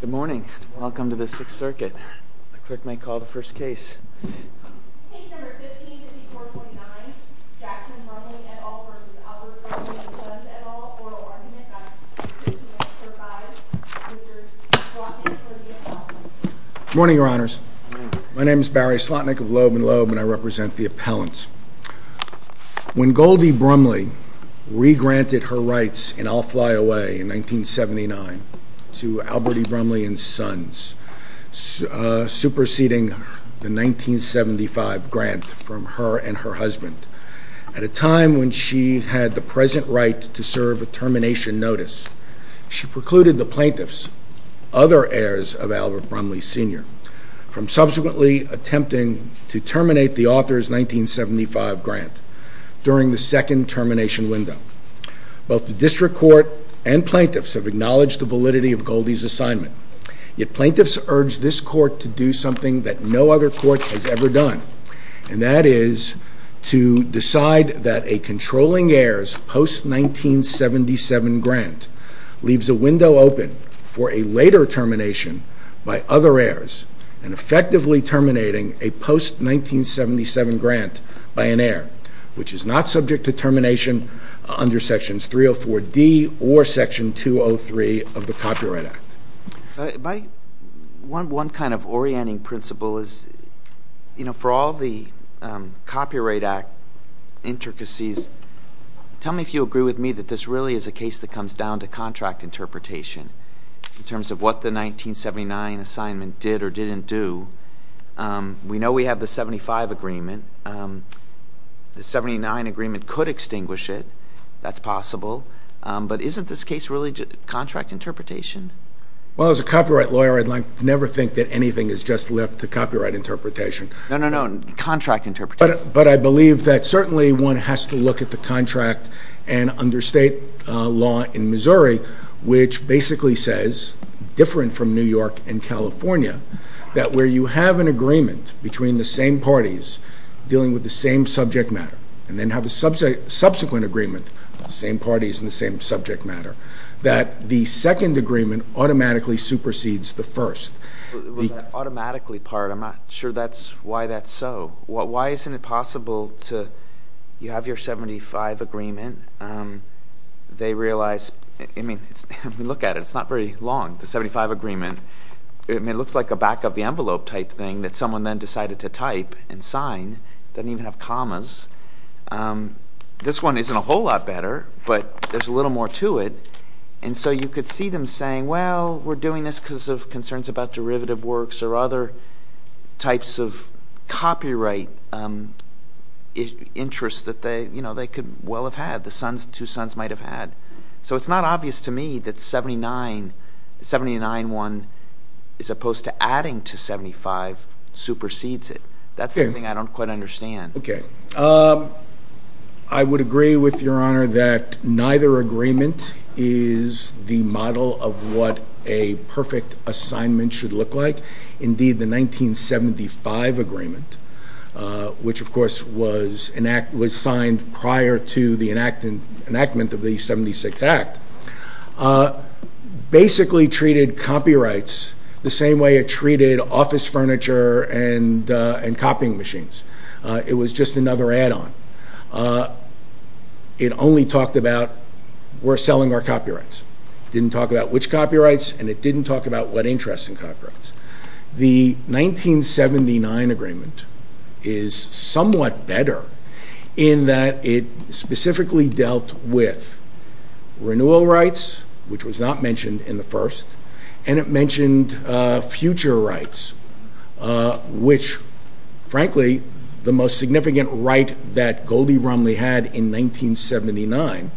Good morning. Welcome to the Sixth Circuit. The clerk may call the first case. Case number 15-5429, Jackson Brumley et al. v. Albert Brumley and Sons et al. Oral argument by the District Attorney for Fives, Mr. Slotnick for the appellant. Good morning, Your Honors. My name is Barry Slotnick of Loeb & Loeb, and I represent the appellants. When Goldie Brumley re-granted her rights in I'll Fly Away in 1979 to Albert E. Brumley and Sons, superseding the 1975 grant from her and her husband, at a time when she had the present right to serve a termination notice, she precluded the plaintiffs, other heirs of Albert Brumley Sr., from subsequently attempting to terminate the author's 1975 grant during the second termination window. Both the District Court and plaintiffs have acknowledged the validity of Goldie's assignment, yet plaintiffs urge this Court to do something that no other court has ever done, and that is to decide that a controlling heir's post-1977 grant leaves a window open for a later termination by other heirs, and effectively terminating a post-1977 grant by an heir, which is not subject to termination under Sections 304D or Section 203 of the Copyright Act. One kind of orienting principle is, you know, for all the Copyright Act intricacies, tell me if you agree with me that this really is a case that comes down to contract interpretation, in terms of what the 1979 assignment did or didn't do. We know we have the 1975 agreement. The 1979 agreement could extinguish it. That's possible. But isn't this case really contract interpretation? Well, as a copyright lawyer, I'd like to never think that anything is just left to copyright interpretation. No, no, no. Contract interpretation. But I believe that certainly one has to look at the contract and under state law in Missouri, which basically says, different from New York and California, that where you have an agreement between the same parties dealing with the same subject matter, and then have a subsequent agreement of the same parties and the same subject matter, that the second agreement automatically supersedes the first. Was that automatically part? I'm not sure why that's so. Why isn't it possible to, you have your 1975 agreement. They realize, I mean, look at it. It's not very long, the 1975 agreement. It looks like a back of the envelope type thing that someone then decided to type and sign. It doesn't even have commas. This one isn't a whole lot better, but there's a little more to it. And so you could see them saying, well, we're doing this because of concerns about derivative works or other types of copyright interests that they could well have had, the two sons might have had. So it's not obvious to me that 79-1 as opposed to adding to 75 supersedes it. That's something I don't quite understand. Okay. I would agree with Your Honor that neither agreement is the model of what a perfect assignment should look like. Indeed, the 1975 agreement, which, of course, was signed prior to the enactment of the 76 Act, basically treated copyrights the same way it treated office furniture and copying machines. It was just another add-on. It only talked about we're selling our copyrights. It didn't talk about which copyrights, and it didn't talk about what interest in copyrights. The 1979 agreement is somewhat better in that it specifically dealt with renewal rights, which was not mentioned in the first, and it mentioned future rights, which, frankly, the most significant right that Goldie Romney had in 1979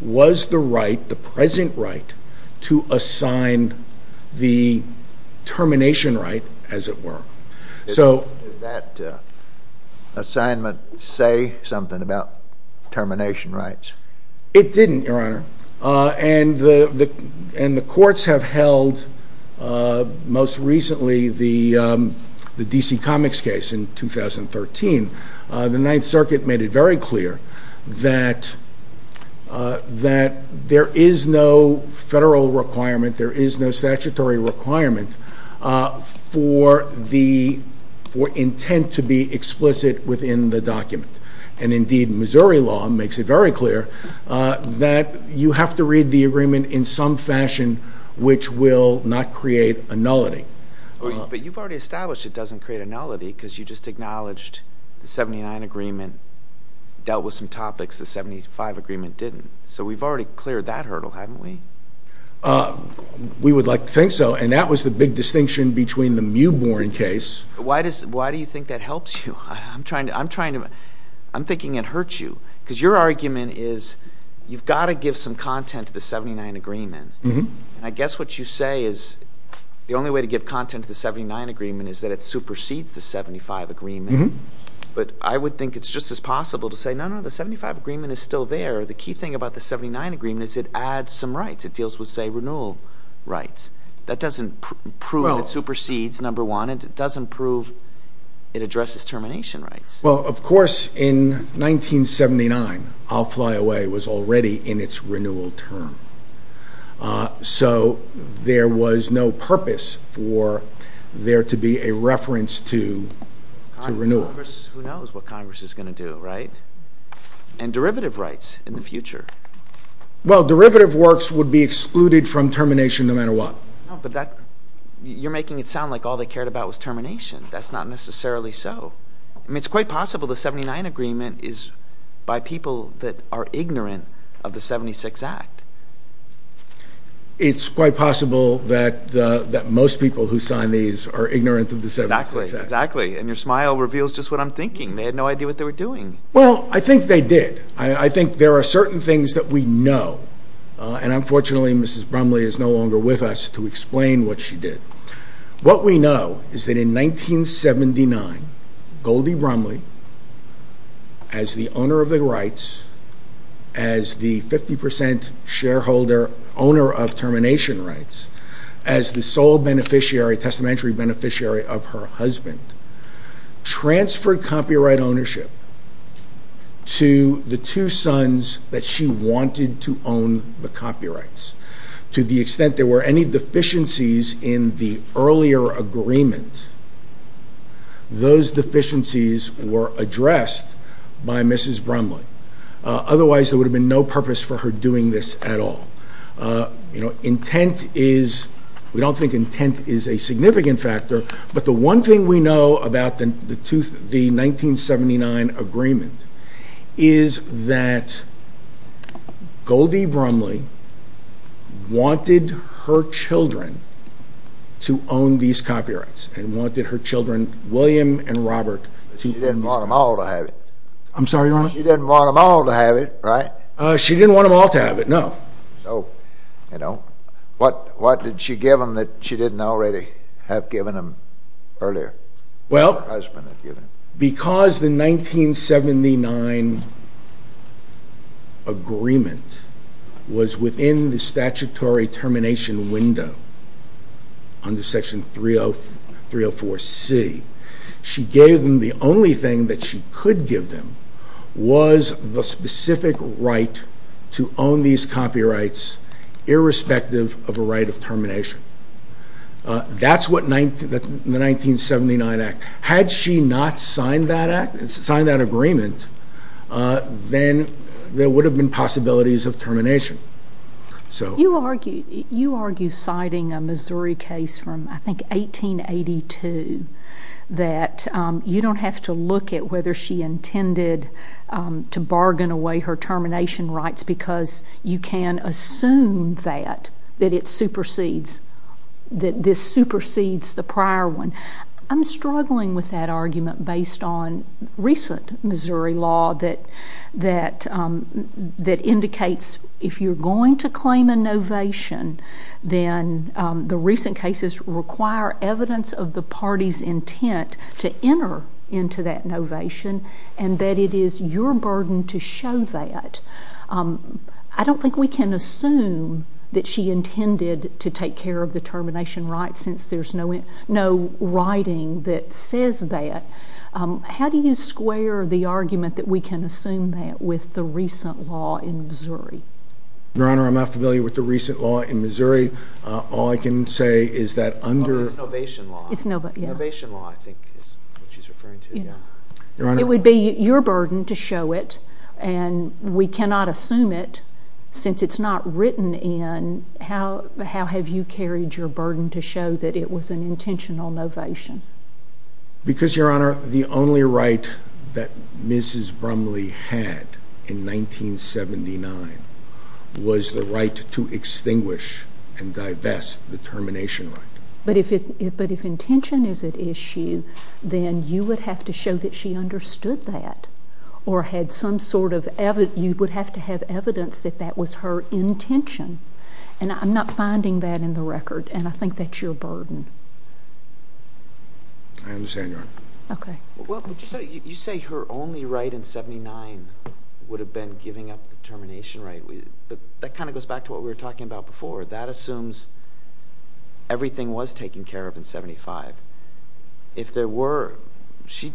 was the right, the present right, to assign the termination right, as it were. Did that assignment say something about termination rights? It didn't, Your Honor, and the courts have held, most recently, the D.C. Comics case in 2013. The Ninth Circuit made it very clear that there is no federal requirement, there is no statutory requirement for intent to be explicit within the document. Indeed, Missouri law makes it very clear that you have to read the agreement in some fashion which will not create a nullity. But you've already established it doesn't create a nullity because you just acknowledged the 1979 agreement dealt with some topics the 1975 agreement didn't. So we've already cleared that hurdle, haven't we? We would like to think so, and that was the big distinction between the Mewbourne case— Why do you think that helps you? I'm thinking it hurts you because your argument is you've got to give some content to the 1979 agreement. And I guess what you say is the only way to give content to the 1979 agreement is that it supersedes the 1975 agreement. But I would think it's just as possible to say, no, no, the 1975 agreement is still there. The key thing about the 1979 agreement is it adds some rights. It deals with, say, renewal rights. That doesn't prove it supersedes, number one, and it doesn't prove it addresses termination rights. Well, of course, in 1979, I'll Fly Away was already in its renewal term. So there was no purpose for there to be a reference to renewal. Congress, who knows what Congress is going to do, right? And derivative rights in the future. Well, derivative works would be excluded from termination no matter what. No, but you're making it sound like all they cared about was termination. That's not necessarily so. I mean, it's quite possible the 1979 agreement is by people that are ignorant of the 76 Act. It's quite possible that most people who sign these are ignorant of the 76 Act. Exactly. And your smile reveals just what I'm thinking. They had no idea what they were doing. Well, I think they did. I think there are certain things that we know, and unfortunately Mrs. Brumley is no longer with us to explain what she did. What we know is that in 1979, Goldie Brumley, as the owner of the rights, as the 50% shareholder owner of termination rights, as the sole beneficiary, testamentary beneficiary of her husband, transferred copyright ownership to the two sons that she wanted to own the copyrights to the extent there were any deficiencies in the earlier agreement. Those deficiencies were addressed by Mrs. Brumley. Otherwise, there would have been no purpose for her doing this at all. You know, intent is, we don't think intent is a significant factor, but the one thing we know about the 1979 agreement is that Goldie Brumley wanted her children to own these copyrights and wanted her children, William and Robert, to own these copyrights. She didn't want them all to have it. I'm sorry, Your Honor? She didn't want them all to have it, right? She didn't want them all to have it, no. So, you know, what did she give them that she didn't already have given them earlier? Well, because the 1979 agreement was within the statutory termination window under Section 304C, she gave them the only thing that she could give them was the specific right to own these copyrights, irrespective of a right of termination. That's what the 1979 act, had she not signed that agreement, then there would have been possibilities of termination. You argue, citing a Missouri case from, I think, 1882, that you don't have to look at whether she intended to bargain away her termination rights because you can assume that it supersedes, that this supersedes the prior one. I'm struggling with that argument based on recent Missouri law that indicates if you're going to claim a novation, then the recent cases require evidence of the party's intent to enter into that novation, and that it is your burden to show that. I don't think we can assume that she intended to take care of the termination rights since there's no writing that says that. How do you square the argument that we can assume that with the recent law in Missouri? Your Honor, I'm not familiar with the recent law in Missouri. All I can say is that under— It's novation law. It's novation law, yeah. Novation law, I think, is what she's referring to, yeah. Your Honor— It would be your burden to show it, and we cannot assume it since it's not written in. How have you carried your burden to show that it was an intentional novation? Because, Your Honor, the only right that Mrs. Brumley had in 1979 was the right to extinguish and divest the termination right. But if intention is at issue, then you would have to show that she understood that or had some sort of—you would have to have evidence that that was her intention, and I'm not finding that in the record, and I think that's your burden. I understand, Your Honor. Okay. Well, you say her only right in 1979 would have been giving up the termination right, but that kind of goes back to what we were talking about before. That assumes everything was taken care of in 1975. If there were—she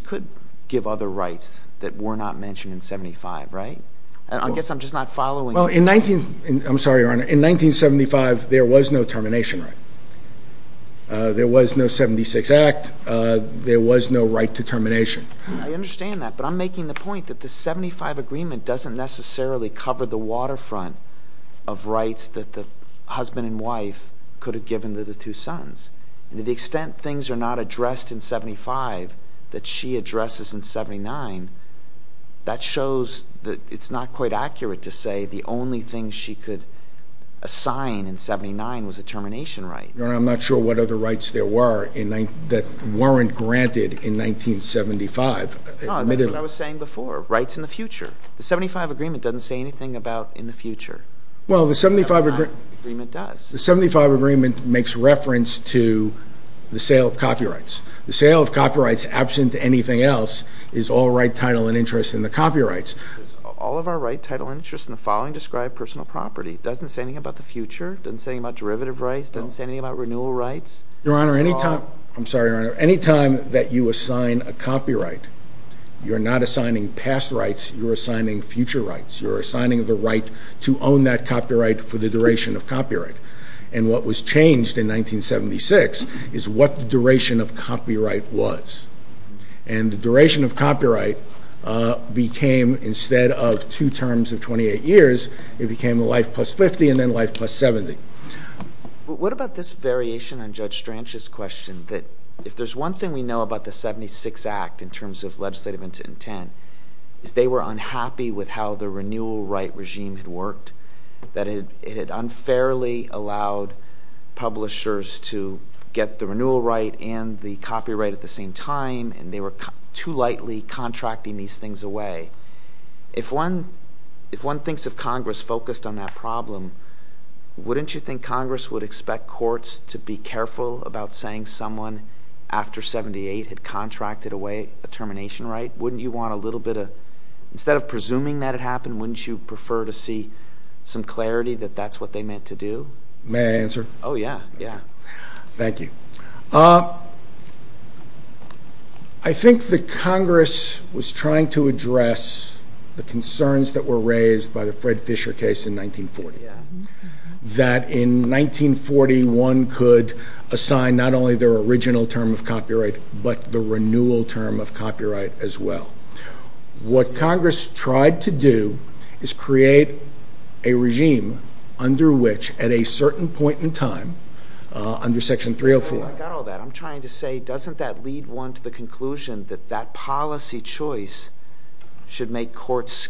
could give other rights that were not mentioned in 1975, right? I guess I'm just not following— Well, in—I'm sorry, Your Honor. In 1975, there was no termination right. There was no 76 Act. There was no right to termination. I understand that, but I'm making the point that the 1975 agreement doesn't necessarily cover the waterfront of rights that the husband and wife could have given to the two sons and to the extent things are not addressed in 1975 that she addresses in 1979, that shows that it's not quite accurate to say the only thing she could assign in 1979 was a termination right. Your Honor, I'm not sure what other rights there were in—that weren't granted in 1975. No, that's what I was saying before, rights in the future. The 1975 agreement doesn't say anything about in the future. Well, the 1975— The 1975 agreement does. The 1975 agreement makes reference to the sale of copyrights. The sale of copyrights, absent anything else, is all right, title, and interest in the copyrights. All of our right, title, and interest in the following describe personal property. It doesn't say anything about the future? It doesn't say anything about derivative rights? No. It doesn't say anything about renewal rights? Your Honor, any time—I'm sorry, Your Honor. Any time that you assign a copyright, you're not assigning past rights. You're assigning future rights. You're assigning the right to own that copyright for the duration of copyright. And what was changed in 1976 is what the duration of copyright was. And the duration of copyright became, instead of two terms of 28 years, it became a life plus 50 and then life plus 70. What about this variation on Judge Stranch's question that if there's one thing we know about the 76 Act in terms of legislative intent, is they were unhappy with how the renewal right regime had worked, that it had unfairly allowed publishers to get the renewal right and the copyright at the same time, and they were too lightly contracting these things away. If one thinks of Congress focused on that problem, wouldn't you think Congress would expect courts to be careful about saying someone after 78 had contracted away a termination right? Wouldn't you want a little bit of—instead of presuming that it happened, wouldn't you prefer to see some clarity that that's what they meant to do? May I answer? Oh, yeah. Yeah. Thank you. I think that Congress was trying to address the concerns that were raised by the Fred Fisher case in 1940. That in 1940, one could assign not only their original term of copyright, but the renewal term of copyright as well. What Congress tried to do is create a regime under which, at a certain point in time, under Section 304— I got all that. I'm trying to say, doesn't that lead one to the conclusion that that policy choice should make courts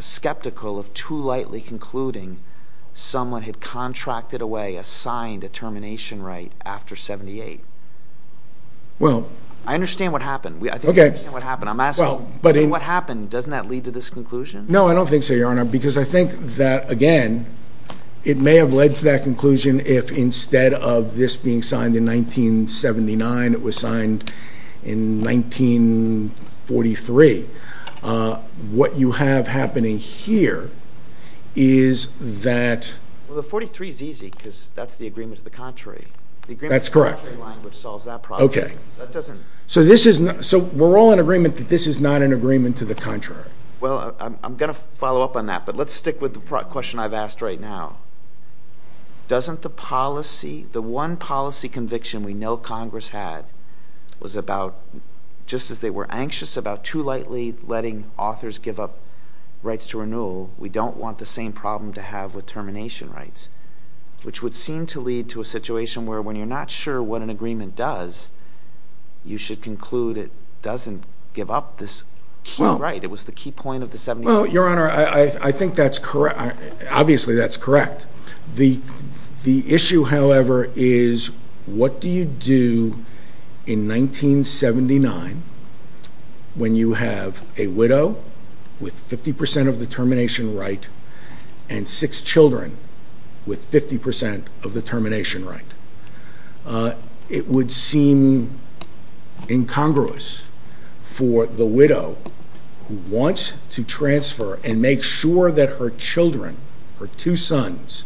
skeptical of too lightly concluding someone had contracted away, assigned a termination right after 78? Well— I understand what happened. Okay. I think I understand what happened. I'm asking, what happened? Doesn't that lead to this conclusion? No, I don't think so, Your Honor, because I think that, again, it may have led to that conclusion if instead of this being signed in 1979, it was signed in 1943. What you have happening here is that— Well, the 43 is easy because that's the agreement to the contrary. That's correct. The agreement to the contrary language solves that problem. Okay. That doesn't— So we're all in agreement that this is not an agreement to the contrary. Well, I'm going to follow up on that, but let's stick with the question I've asked right now. Doesn't the policy—the one policy conviction we know Congress had was about, just as they were anxious about too lightly letting authors give up rights to renewal, we don't want the same problem to have with termination rights, which would seem to lead to a situation where when you're not sure what an agreement does, you should conclude it doesn't give up this key right. It was the key point of the 78. Your Honor, I think that's—obviously, that's correct. The issue, however, is what do you do in 1979 when you have a widow with 50 percent of the termination right and six children with 50 percent of the termination right? It would seem incongruous for the widow who wants to transfer and make sure that her children, her two sons,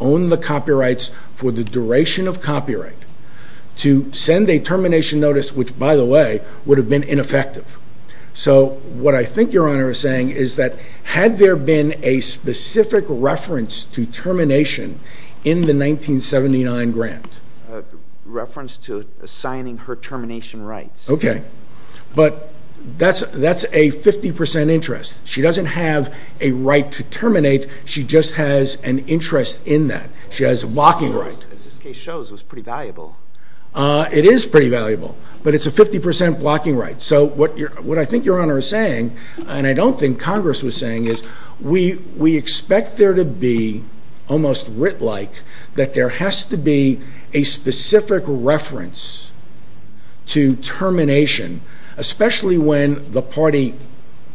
own the copyrights for the duration of copyright, to send a termination notice, which, by the way, would have been ineffective. So what I think Your Honor is saying is that had there been a specific reference to termination in the 1979 grant— A reference to assigning her termination rights. Okay. But that's a 50 percent interest. She doesn't have a right to terminate. She just has an interest in that. She has a blocking right. As this case shows, it was pretty valuable. It is pretty valuable, but it's a 50 percent blocking right. So what I think Your Honor is saying, and I don't think Congress was saying, is we expect there to be, almost writ-like, that there has to be a specific reference to termination, especially when the party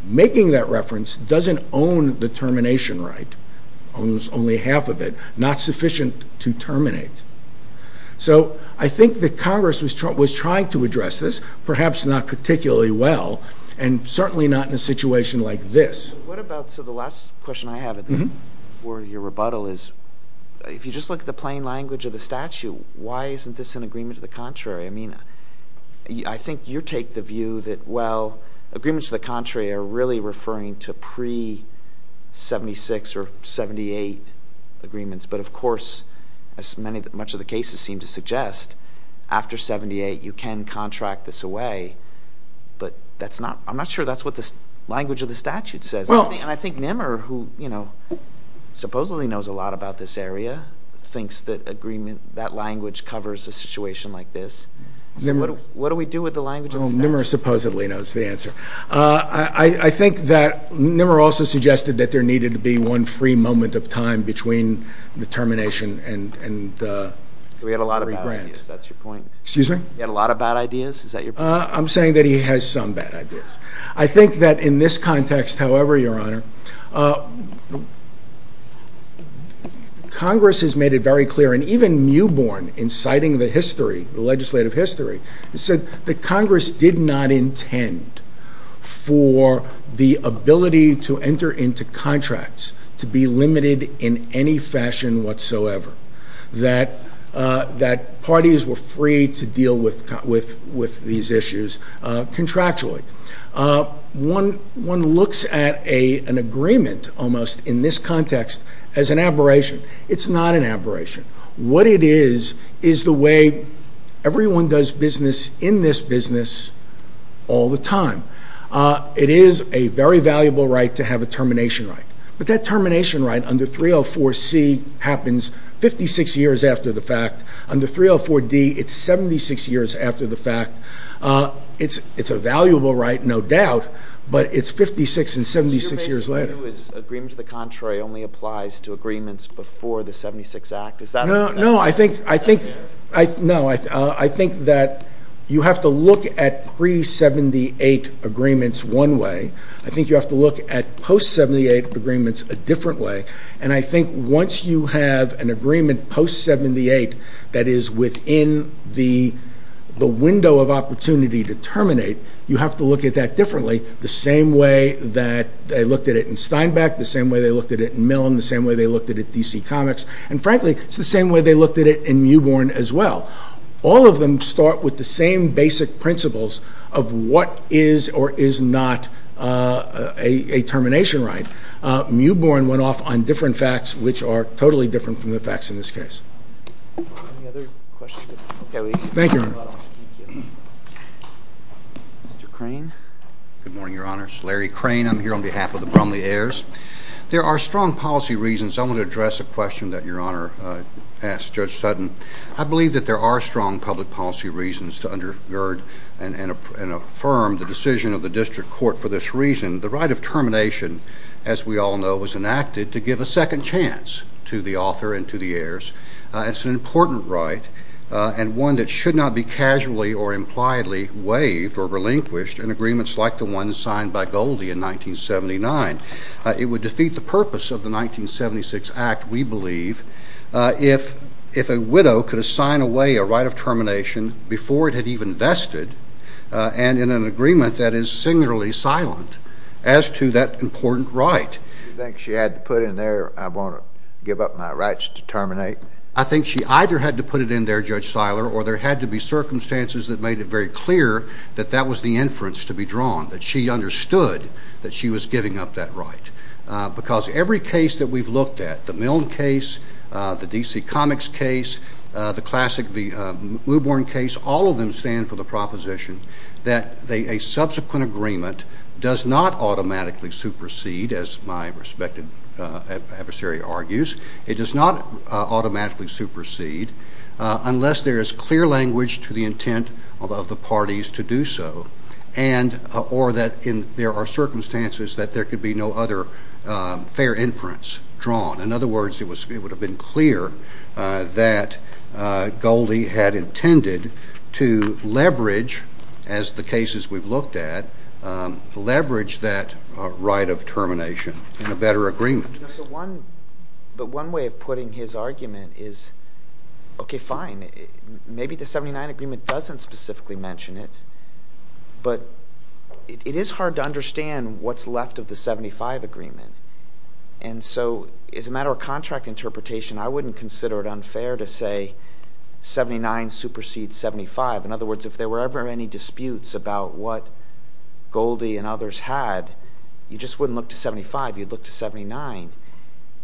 making that reference doesn't own the termination right, owns only half of it, not sufficient to terminate. So I think that Congress was trying to address this, perhaps not particularly well, and certainly not in a situation like this. What about—so the last question I have for your rebuttal is, if you just look at the plain language of the statute, why isn't this an agreement to the contrary? I mean, I think you take the view that, well, agreements to the contrary are really referring to pre-'76 or 78 agreements, but of course, as much of the cases seem to suggest, after 78 you can contract this away, but I'm not sure that's what the language of the statute says. And I think Nimmer, who supposedly knows a lot about this area, thinks that language covers a situation like this. So what do we do with the language of the statute? Well, Nimmer supposedly knows the answer. I think that Nimmer also suggested that there needed to be one free moment of time between the termination and regrant. So he had a lot of bad ideas, that's your point? Excuse me? He had a lot of bad ideas, is that your point? I'm saying that he has some bad ideas. I think that in this context, however, Your Honor, Congress has made it very clear, and even Newborn, in citing the history, the legislative history, said that Congress did not intend for the ability to enter into contracts to be limited in any fashion whatsoever, that parties were free to deal with these issues contractually. One looks at an agreement, almost, in this context as an aberration. It's not an aberration. What it is, is the way everyone does business in this business all the time. It is a very valuable right to have a termination right. But that termination right under 304C happens 56 years after the fact. Under 304D, it's 76 years after the fact. It's a valuable right, no doubt, but it's 56 and 76 years later. Do you view it as agreement to the contrary only applies to agreements before the 76 Act? No, I think that you have to look at pre-78 agreements one way. I think you have to look at post-78 agreements a different way. And I think once you have an agreement post-78 that is within the window of opportunity to terminate, you have to look at that differently, the same way that they looked at it in Steinbeck, the same way they looked at it in Milne, the same way they looked at it in DC Comics, and frankly, it's the same way they looked at it in Mewbourne as well. All of them start with the same basic principles of what is or is not a termination right. Mewbourne went off on different facts, which are totally different from the facts in this case. Any other questions? Thank you, Your Honor. Mr. Crane. Good morning, Your Honor. It's Larry Crane. I'm here on behalf of the Brumley Heirs. There are strong policy reasons. I want to address a question that Your Honor asked Judge Sutton. I believe that there are strong public policy reasons to undergird and affirm the decision of the district court for this reason. The right of termination, as we all know, was enacted to give a second chance to the author and to the heirs. It's an important right and one that should not be casually or impliedly waived or relinquished in agreements like the one signed by Goldie in 1979. It would defeat the purpose of the 1976 Act, we believe, if a widow could assign away a right of termination before it had even vested and in an agreement that is singularly silent as to that important right. Do you think she had to put in there, I want to give up my rights to terminate? I think she either had to put it in there, Judge Seiler, or there had to be circumstances that made it very clear that that was the inference to be drawn, that she understood that she was giving up that right. Because every case that we've looked at, the Milne case, the DC Comics case, the classic Muborne case, all of them stand for the proposition that a subsequent agreement does not automatically supersede, as my respected adversary argues, it does not automatically supersede unless there is clear language to the intent of the parties to do so or that there are circumstances that there could be no other fair inference drawn. In other words, it would have been clear that Goldie had intended to leverage, as the cases we've looked at, leverage that right of termination in a better agreement. But one way of putting his argument is, okay, fine, maybe the 1979 agreement doesn't specifically mention it, but it is hard to understand what's left of the 1975 agreement. And so as a matter of contract interpretation, I wouldn't consider it unfair to say 79 supersedes 75. In other words, if there were ever any disputes about what Goldie and others had, you just wouldn't look to 75. You'd look to 79.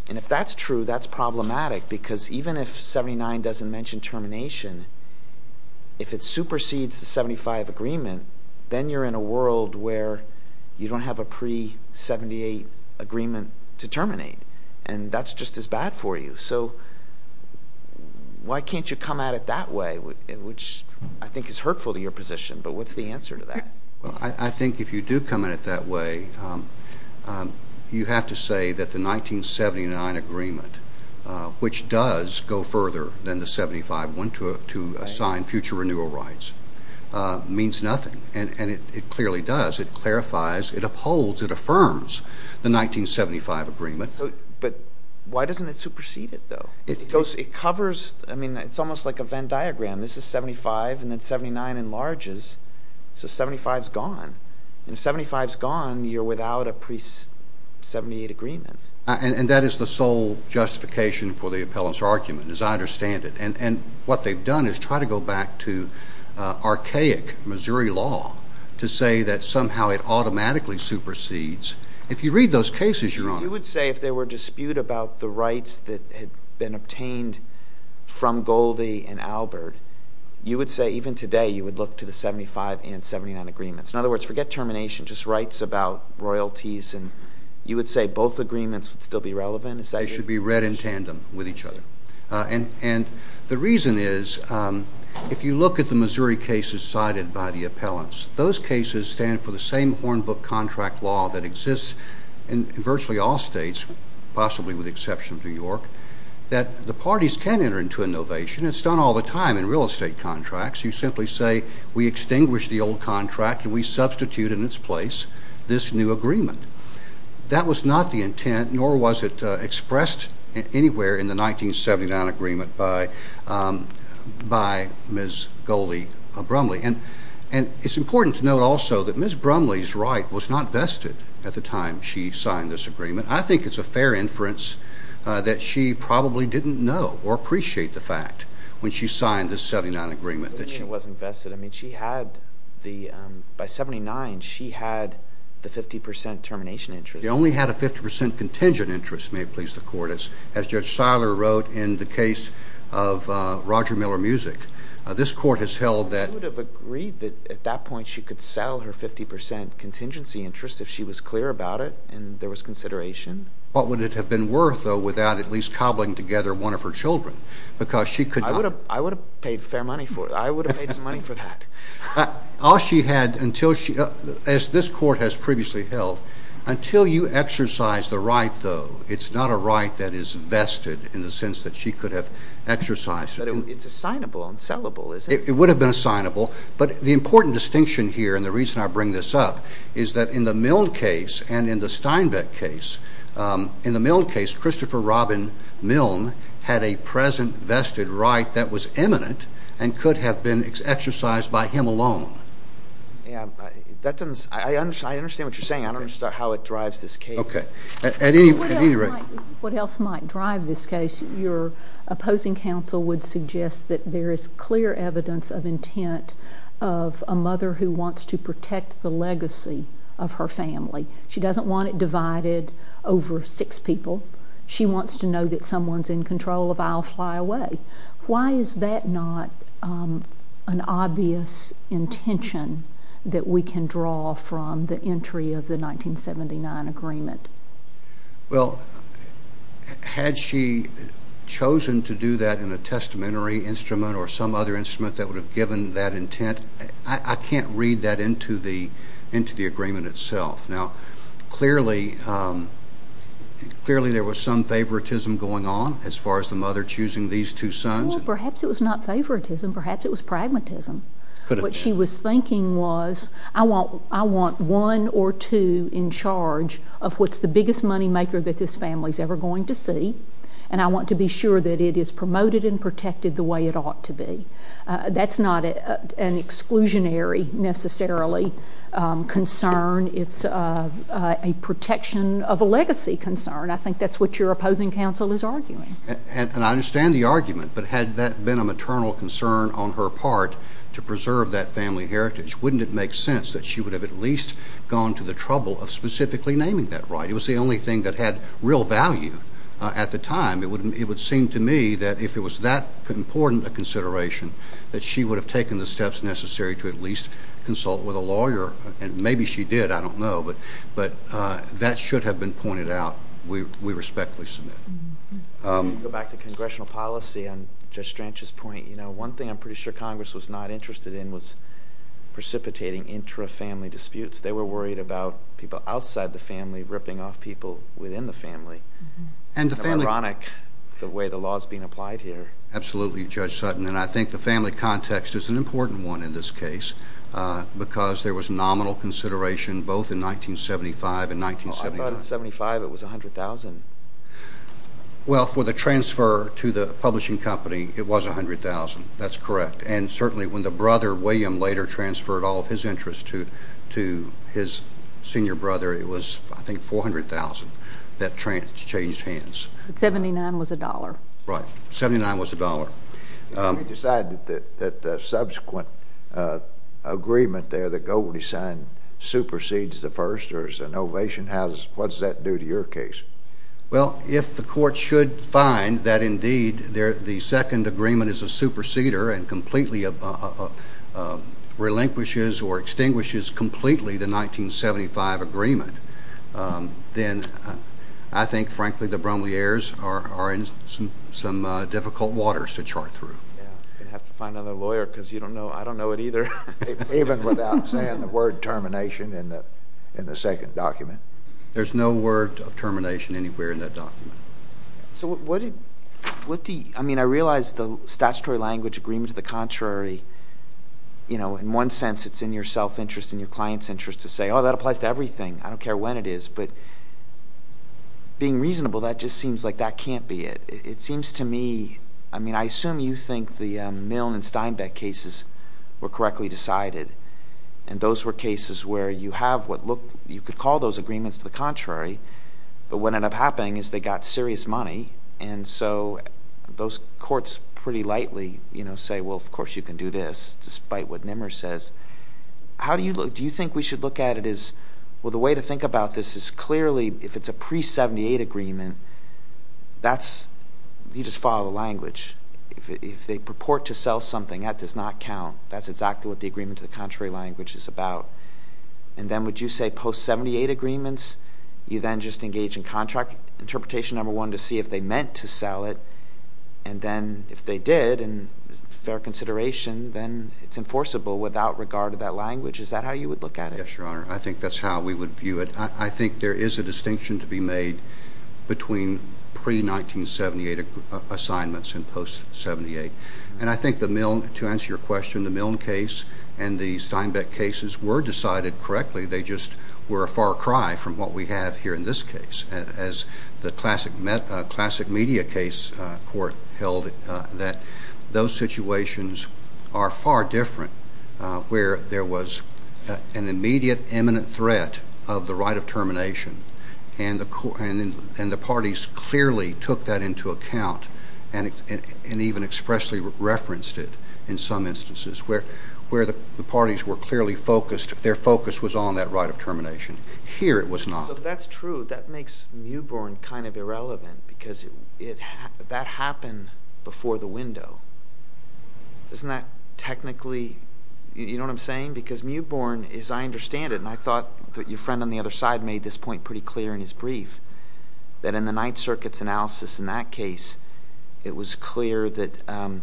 And if that's true, that's problematic because even if 79 doesn't mention termination, if it supersedes the 75 agreement, then you're in a world where you don't have a pre-78 agreement to terminate, and that's just as bad for you. So why can't you come at it that way, which I think is hurtful to your position? But what's the answer to that? Well, I think if you do come at it that way, you have to say that the 1979 agreement, which does go further than the 75 one to assign future renewal rights, means nothing. And it clearly does. It clarifies, it upholds, it affirms the 1975 agreement. But why doesn't it supersede it, though? It covers, I mean, it's almost like a Venn diagram. This is 75, and then 79 enlarges, so 75 is gone. And if 75 is gone, you're without a pre-78 agreement. And that is the sole justification for the appellant's argument, as I understand it. And what they've done is try to go back to archaic Missouri law to say that somehow it automatically supersedes. If you read those cases, Your Honor. You would say if there were dispute about the rights that had been obtained from Goldie and Albert, you would say even today you would look to the 75 and 79 agreements. In other words, forget termination, just rights about royalties. And you would say both agreements would still be relevant? They should be read in tandem with each other. And the reason is if you look at the Missouri cases cited by the appellants, those cases stand for the same Hornbook contract law that exists in virtually all states, possibly with the exception of New York, that the parties can enter into innovation. It's done all the time in real estate contracts. You simply say we extinguish the old contract and we substitute in its place this new agreement. That was not the intent, nor was it expressed anywhere in the 1979 agreement by Ms. Goldie Brumley. And it's important to note also that Ms. Brumley's right was not vested at the time she signed this agreement. I think it's a fair inference that she probably didn't know or appreciate the fact when she signed this 79 agreement that she— You mean it wasn't vested? I mean she had the—by 79, she had the 50 percent termination interest. She only had a 50 percent contingent interest, may it please the Court. As Judge Seiler wrote in the case of Roger Miller Music, this Court has held that— She would have agreed that at that point she could sell her 50 percent contingency interest if she was clear about it and there was consideration. What would it have been worth, though, without at least cobbling together one of her children? Because she could not— I would have paid fair money for it. I would have made some money for that. All she had until she—as this Court has previously held, until you exercise the right, though, it's not a right that is vested in the sense that she could have exercised it. But it's assignable and sellable, isn't it? It would have been assignable. But the important distinction here, and the reason I bring this up, is that in the Milne case and in the Steinbeck case, in the Milne case, Christopher Robin Milne had a present vested right that was eminent and could have been exercised by him alone. I understand what you're saying. I don't understand how it drives this case. Okay. At any rate— What else might drive this case? Your opposing counsel would suggest that there is clear evidence of intent of a mother who wants to protect the legacy of her family. She doesn't want it divided over six people. She wants to know that someone's in control of I'll Fly Away. Why is that not an obvious intention that we can draw from the entry of the 1979 agreement? Well, had she chosen to do that in a testamentary instrument or some other instrument that would have given that intent, I can't read that into the agreement itself. Now, clearly there was some favoritism going on as far as the mother choosing these two sons. Well, perhaps it was not favoritism. Perhaps it was pragmatism. What she was thinking was, I want one or two in charge of what's the biggest moneymaker that this family is ever going to see, and I want to be sure that it is promoted and protected the way it ought to be. That's not an exclusionary necessarily concern. It's a protection of a legacy concern. I think that's what your opposing counsel is arguing. And I understand the argument, but had that been a maternal concern on her part to preserve that family heritage, wouldn't it make sense that she would have at least gone to the trouble of specifically naming that right? It was the only thing that had real value at the time. It would seem to me that if it was that important a consideration, that she would have taken the steps necessary to at least consult with a lawyer. And maybe she did. I don't know. But that should have been pointed out. We respectfully submit. Let me go back to congressional policy on Judge Stranch's point. One thing I'm pretty sure Congress was not interested in was precipitating intra-family disputes. They were worried about people outside the family ripping off people within the family. It's ironic the way the law is being applied here. Absolutely, Judge Sutton. And I think the family context is an important one in this case because there was nominal consideration both in 1975 and 1979. I thought in 1975 it was $100,000. Well, for the transfer to the publishing company, it was $100,000. That's correct. And certainly when the brother, William, later transferred all of his interest to his senior brother, it was, I think, $400,000 that changed hands. $79,000 was a dollar. Right. $79,000 was a dollar. You decided that the subsequent agreement there that Governor signed supersedes the first? Or is it an ovation? What does that do to your case? Well, if the court should find that indeed the second agreement is a superseder and completely relinquishes or extinguishes completely the 1975 agreement, then I think, frankly, the Bromley heirs are in some difficult waters to chart through. You're going to have to find another lawyer because I don't know it either. Even without saying the word termination in the second document. There's no word of termination anywhere in that document. I realize the statutory language agreement to the contrary, in one sense, it's in your self-interest and your client's interest to say, oh, that applies to everything. I don't care when it is. But being reasonable, that just seems like that can't be it. It seems to me, I mean, I assume you think the Milne and Steinbeck cases were correctly decided, and those were cases where you could call those agreements to the contrary, but what ended up happening is they got serious money, and so those courts pretty lightly say, well, of course you can do this, despite what Nimmer says. Do you think we should look at it as, well, the way to think about this is clearly, if it's a pre-'78 agreement, you just follow the language. If they purport to sell something, that does not count. That's exactly what the agreement to the contrary language is about. And then would you say post-'78 agreements, you then just engage in contract interpretation, number one, to see if they meant to sell it, and then if they did, and fair consideration, then it's enforceable without regard to that language. Is that how you would look at it? Yes, Your Honor. I think that's how we would view it. I think there is a distinction to be made between pre-'1978 assignments and post-'78. And I think the Milne, to answer your question, the Milne case and the Steinbeck cases were decided correctly. They just were a far cry from what we have here in this case, as the classic media case court held that those situations are far different, where there was an immediate imminent threat of the right of termination, and the parties clearly took that into account and even expressly referenced it in some instances, where the parties were clearly focused. Their focus was on that right of termination. Here it was not. So if that's true, that makes Mewbourne kind of irrelevant, because that happened before the window. Isn't that technically, you know what I'm saying? Because Mewbourne, as I understand it, and I thought that your friend on the other side made this point pretty clear in his brief, that in the Ninth Circuit's analysis in that case, it was clear that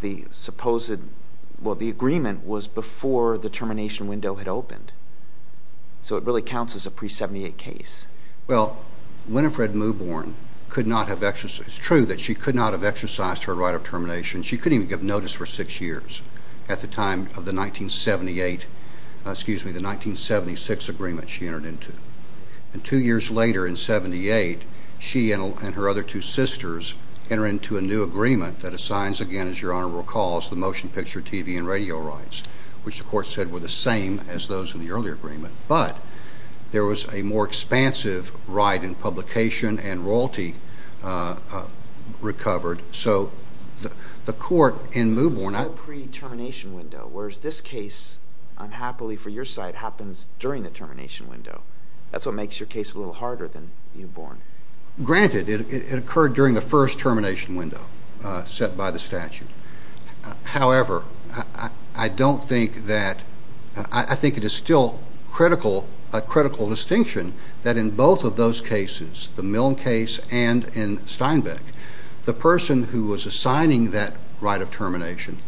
the supposed – well, the agreement was before the termination window had opened. So it really counts as a pre-'78 case. Well, Winifred Mewbourne could not have – it's true that she could not have exercised her right of termination. She couldn't even give notice for six years at the time of the 1978 – excuse me, the 1976 agreement she entered into. And two years later in 78, she and her other two sisters enter into a new agreement that assigns again, as your Honor recalls, the motion picture, TV, and radio rights, which the court said were the same as those in the earlier agreement. But there was a more expansive right in publication and royalty recovered. So the court in Mewbourne – So pre-termination window, whereas this case, unhappily for your side, happens during the termination window. That's what makes your case a little harder than Mewbourne. Granted, it occurred during the first termination window set by the statute. However, I don't think that – I think it is still a critical distinction that in both of those cases, the Milne case and in Steinbeck, the person who was assigning that right of termination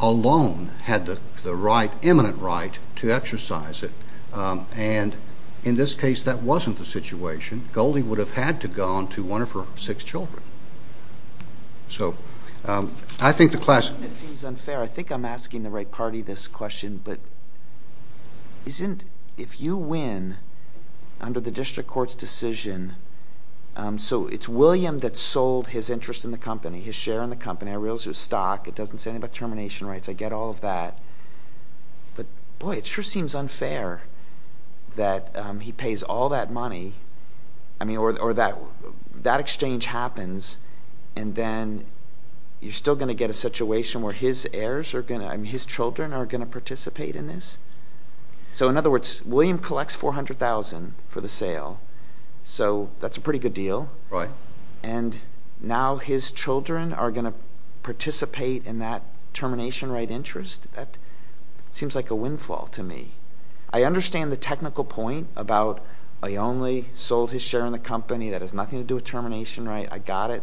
alone had the right, eminent right, to exercise it. And in this case, that wasn't the situation. Goldie would have had to go on to one of her six children. So I think the class – It seems unfair. I think I'm asking the right party this question. But isn't – if you win under the district court's decision – So it's William that sold his interest in the company, his share in the company. I realize it was stock. It doesn't say anything about termination rights. I get all of that. But boy, it sure seems unfair that he pays all that money. I mean, or that exchange happens, and then you're still going to get a situation where his heirs are going to – So, in other words, William collects $400,000 for the sale. So that's a pretty good deal. And now his children are going to participate in that termination right interest? That seems like a windfall to me. I understand the technical point about I only sold his share in the company. That has nothing to do with termination right. I got it.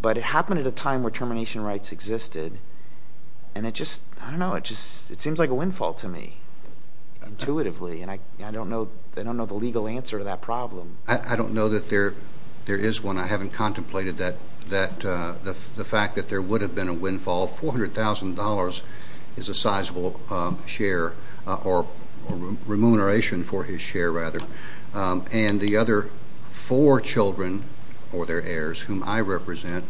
But it happened at a time where termination rights existed. And it just – I don't know. It just – it seems like a windfall to me intuitively, and I don't know the legal answer to that problem. I don't know that there is one. I haven't contemplated that – the fact that there would have been a windfall. $400,000 is a sizable share or remuneration for his share, rather. And the other four children or their heirs, whom I represent,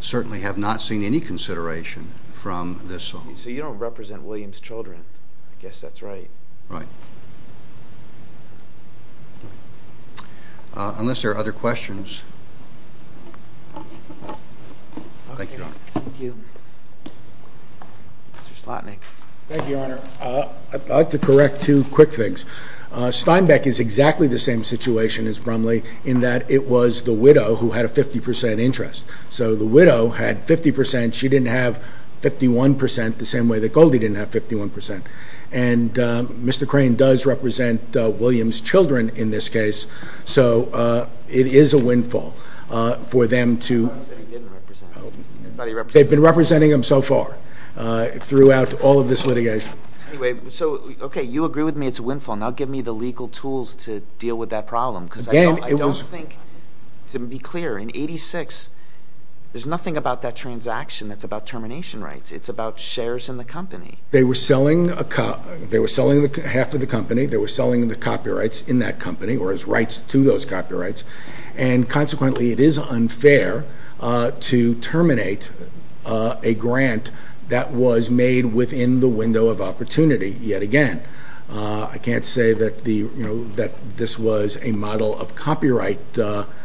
certainly have not seen any consideration from this home. So you don't represent William's children. I guess that's right. Right. Unless there are other questions. Thank you, Your Honor. Thank you. Mr. Slotnick. Thank you, Your Honor. I'd like to correct two quick things. Steinbeck is exactly the same situation as Brumley in that it was the widow who had a 50 percent interest. So the widow had 50 percent. She didn't have 51 percent the same way that Goldie didn't have 51 percent. And Mr. Crane does represent William's children in this case. So it is a windfall for them to – He said he didn't represent. I thought he represented. They've been representing him so far throughout all of this litigation. Anyway, so, okay, you agree with me it's a windfall. Now give me the legal tools to deal with that problem because I don't think – Again, it was – To be clear, in 86, there's nothing about that transaction that's about termination rights. It's about shares in the company. They were selling half of the company. They were selling the copyrights in that company or his rights to those copyrights. And consequently, it is unfair to terminate a grant that was made within the window of opportunity yet again. I can't say that this was a model of copyright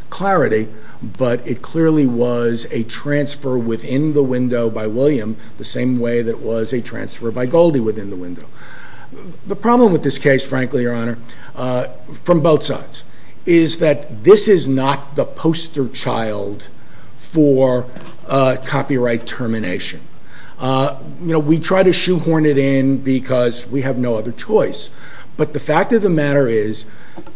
clarity, but it clearly was a transfer within the window by William the same way that it was a transfer by Goldie within the window. The problem with this case, frankly, Your Honor, from both sides, is that this is not the poster child for copyright termination. We try to shoehorn it in because we have no other choice, but the fact of the matter is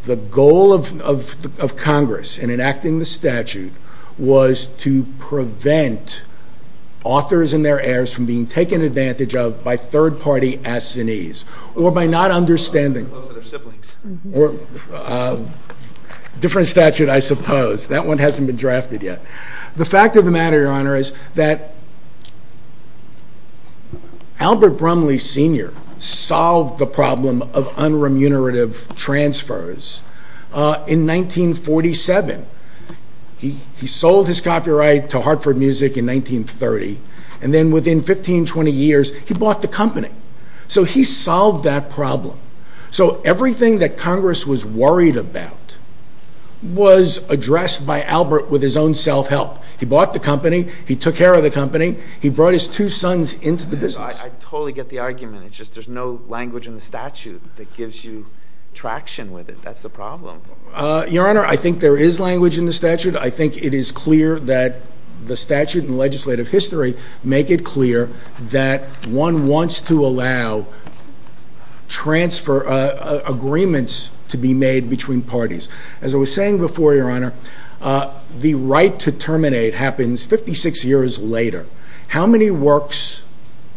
the goal of Congress in enacting the statute was to prevent authors and their heirs from being taken advantage of by third-party assinees or by not understanding – For their siblings. Different statute, I suppose. That one hasn't been drafted yet. The fact of the matter, Your Honor, is that Albert Brumley Sr. solved the problem of unremunerative transfers in 1947. He sold his copyright to Hartford Music in 1930, and then within 15, 20 years, he bought the company. So he solved that problem. So everything that Congress was worried about was addressed by Albert with his own self-help. He bought the company. He took care of the company. He brought his two sons into the business. I totally get the argument. It's just there's no language in the statute that gives you traction with it. That's the problem. Your Honor, I think there is language in the statute. I think it is clear that the statute and legislative history make it clear that one wants to allow transfer agreements to be made between parties. As I was saying before, Your Honor, the right to terminate happens 56 years later. How many works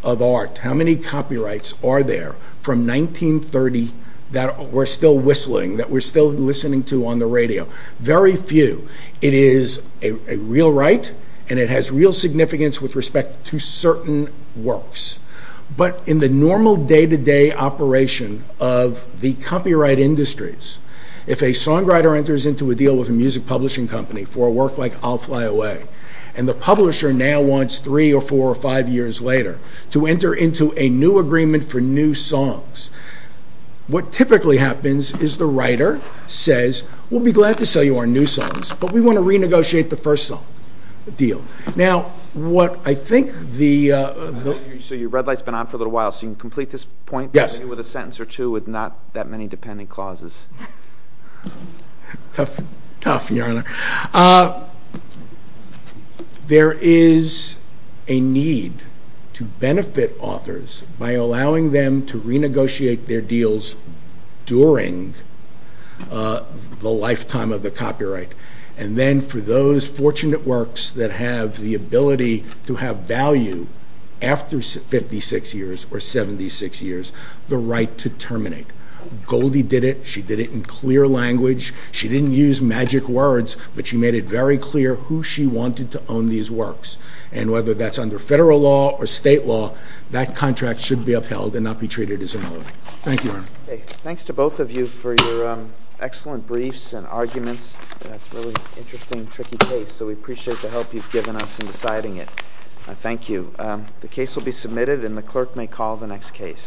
of art, how many copyrights are there from 1930 that we're still whistling, that we're still listening to on the radio? Very few. It is a real right, and it has real significance with respect to certain works. But in the normal day-to-day operation of the copyright industries, if a songwriter enters into a deal with a music publishing company for a work like I'll Fly Away, and the publisher now wants three or four or five years later to enter into a new agreement for new songs, what typically happens is the writer says, We'll be glad to sell you our new songs, but we want to renegotiate the first deal. Now, what I think the— So your red light's been on for a little while, so you can complete this point with a sentence or two with not that many dependent clauses. Tough, tough, Your Honor. There is a need to benefit authors by allowing them to renegotiate their deals during the lifetime of the copyright. And then for those fortunate works that have the ability to have value after 56 years or 76 years, the right to terminate. Goldie did it. She did it in clear language. She didn't use magic words, but she made it very clear who she wanted to own these works. And whether that's under federal law or state law, that contract should be upheld and not be treated as a nullity. Thank you, Your Honor. Thanks to both of you for your excellent briefs and arguments. That's a really interesting, tricky case, so we appreciate the help you've given us in deciding it. Thank you. The case will be submitted, and the clerk may call the next case.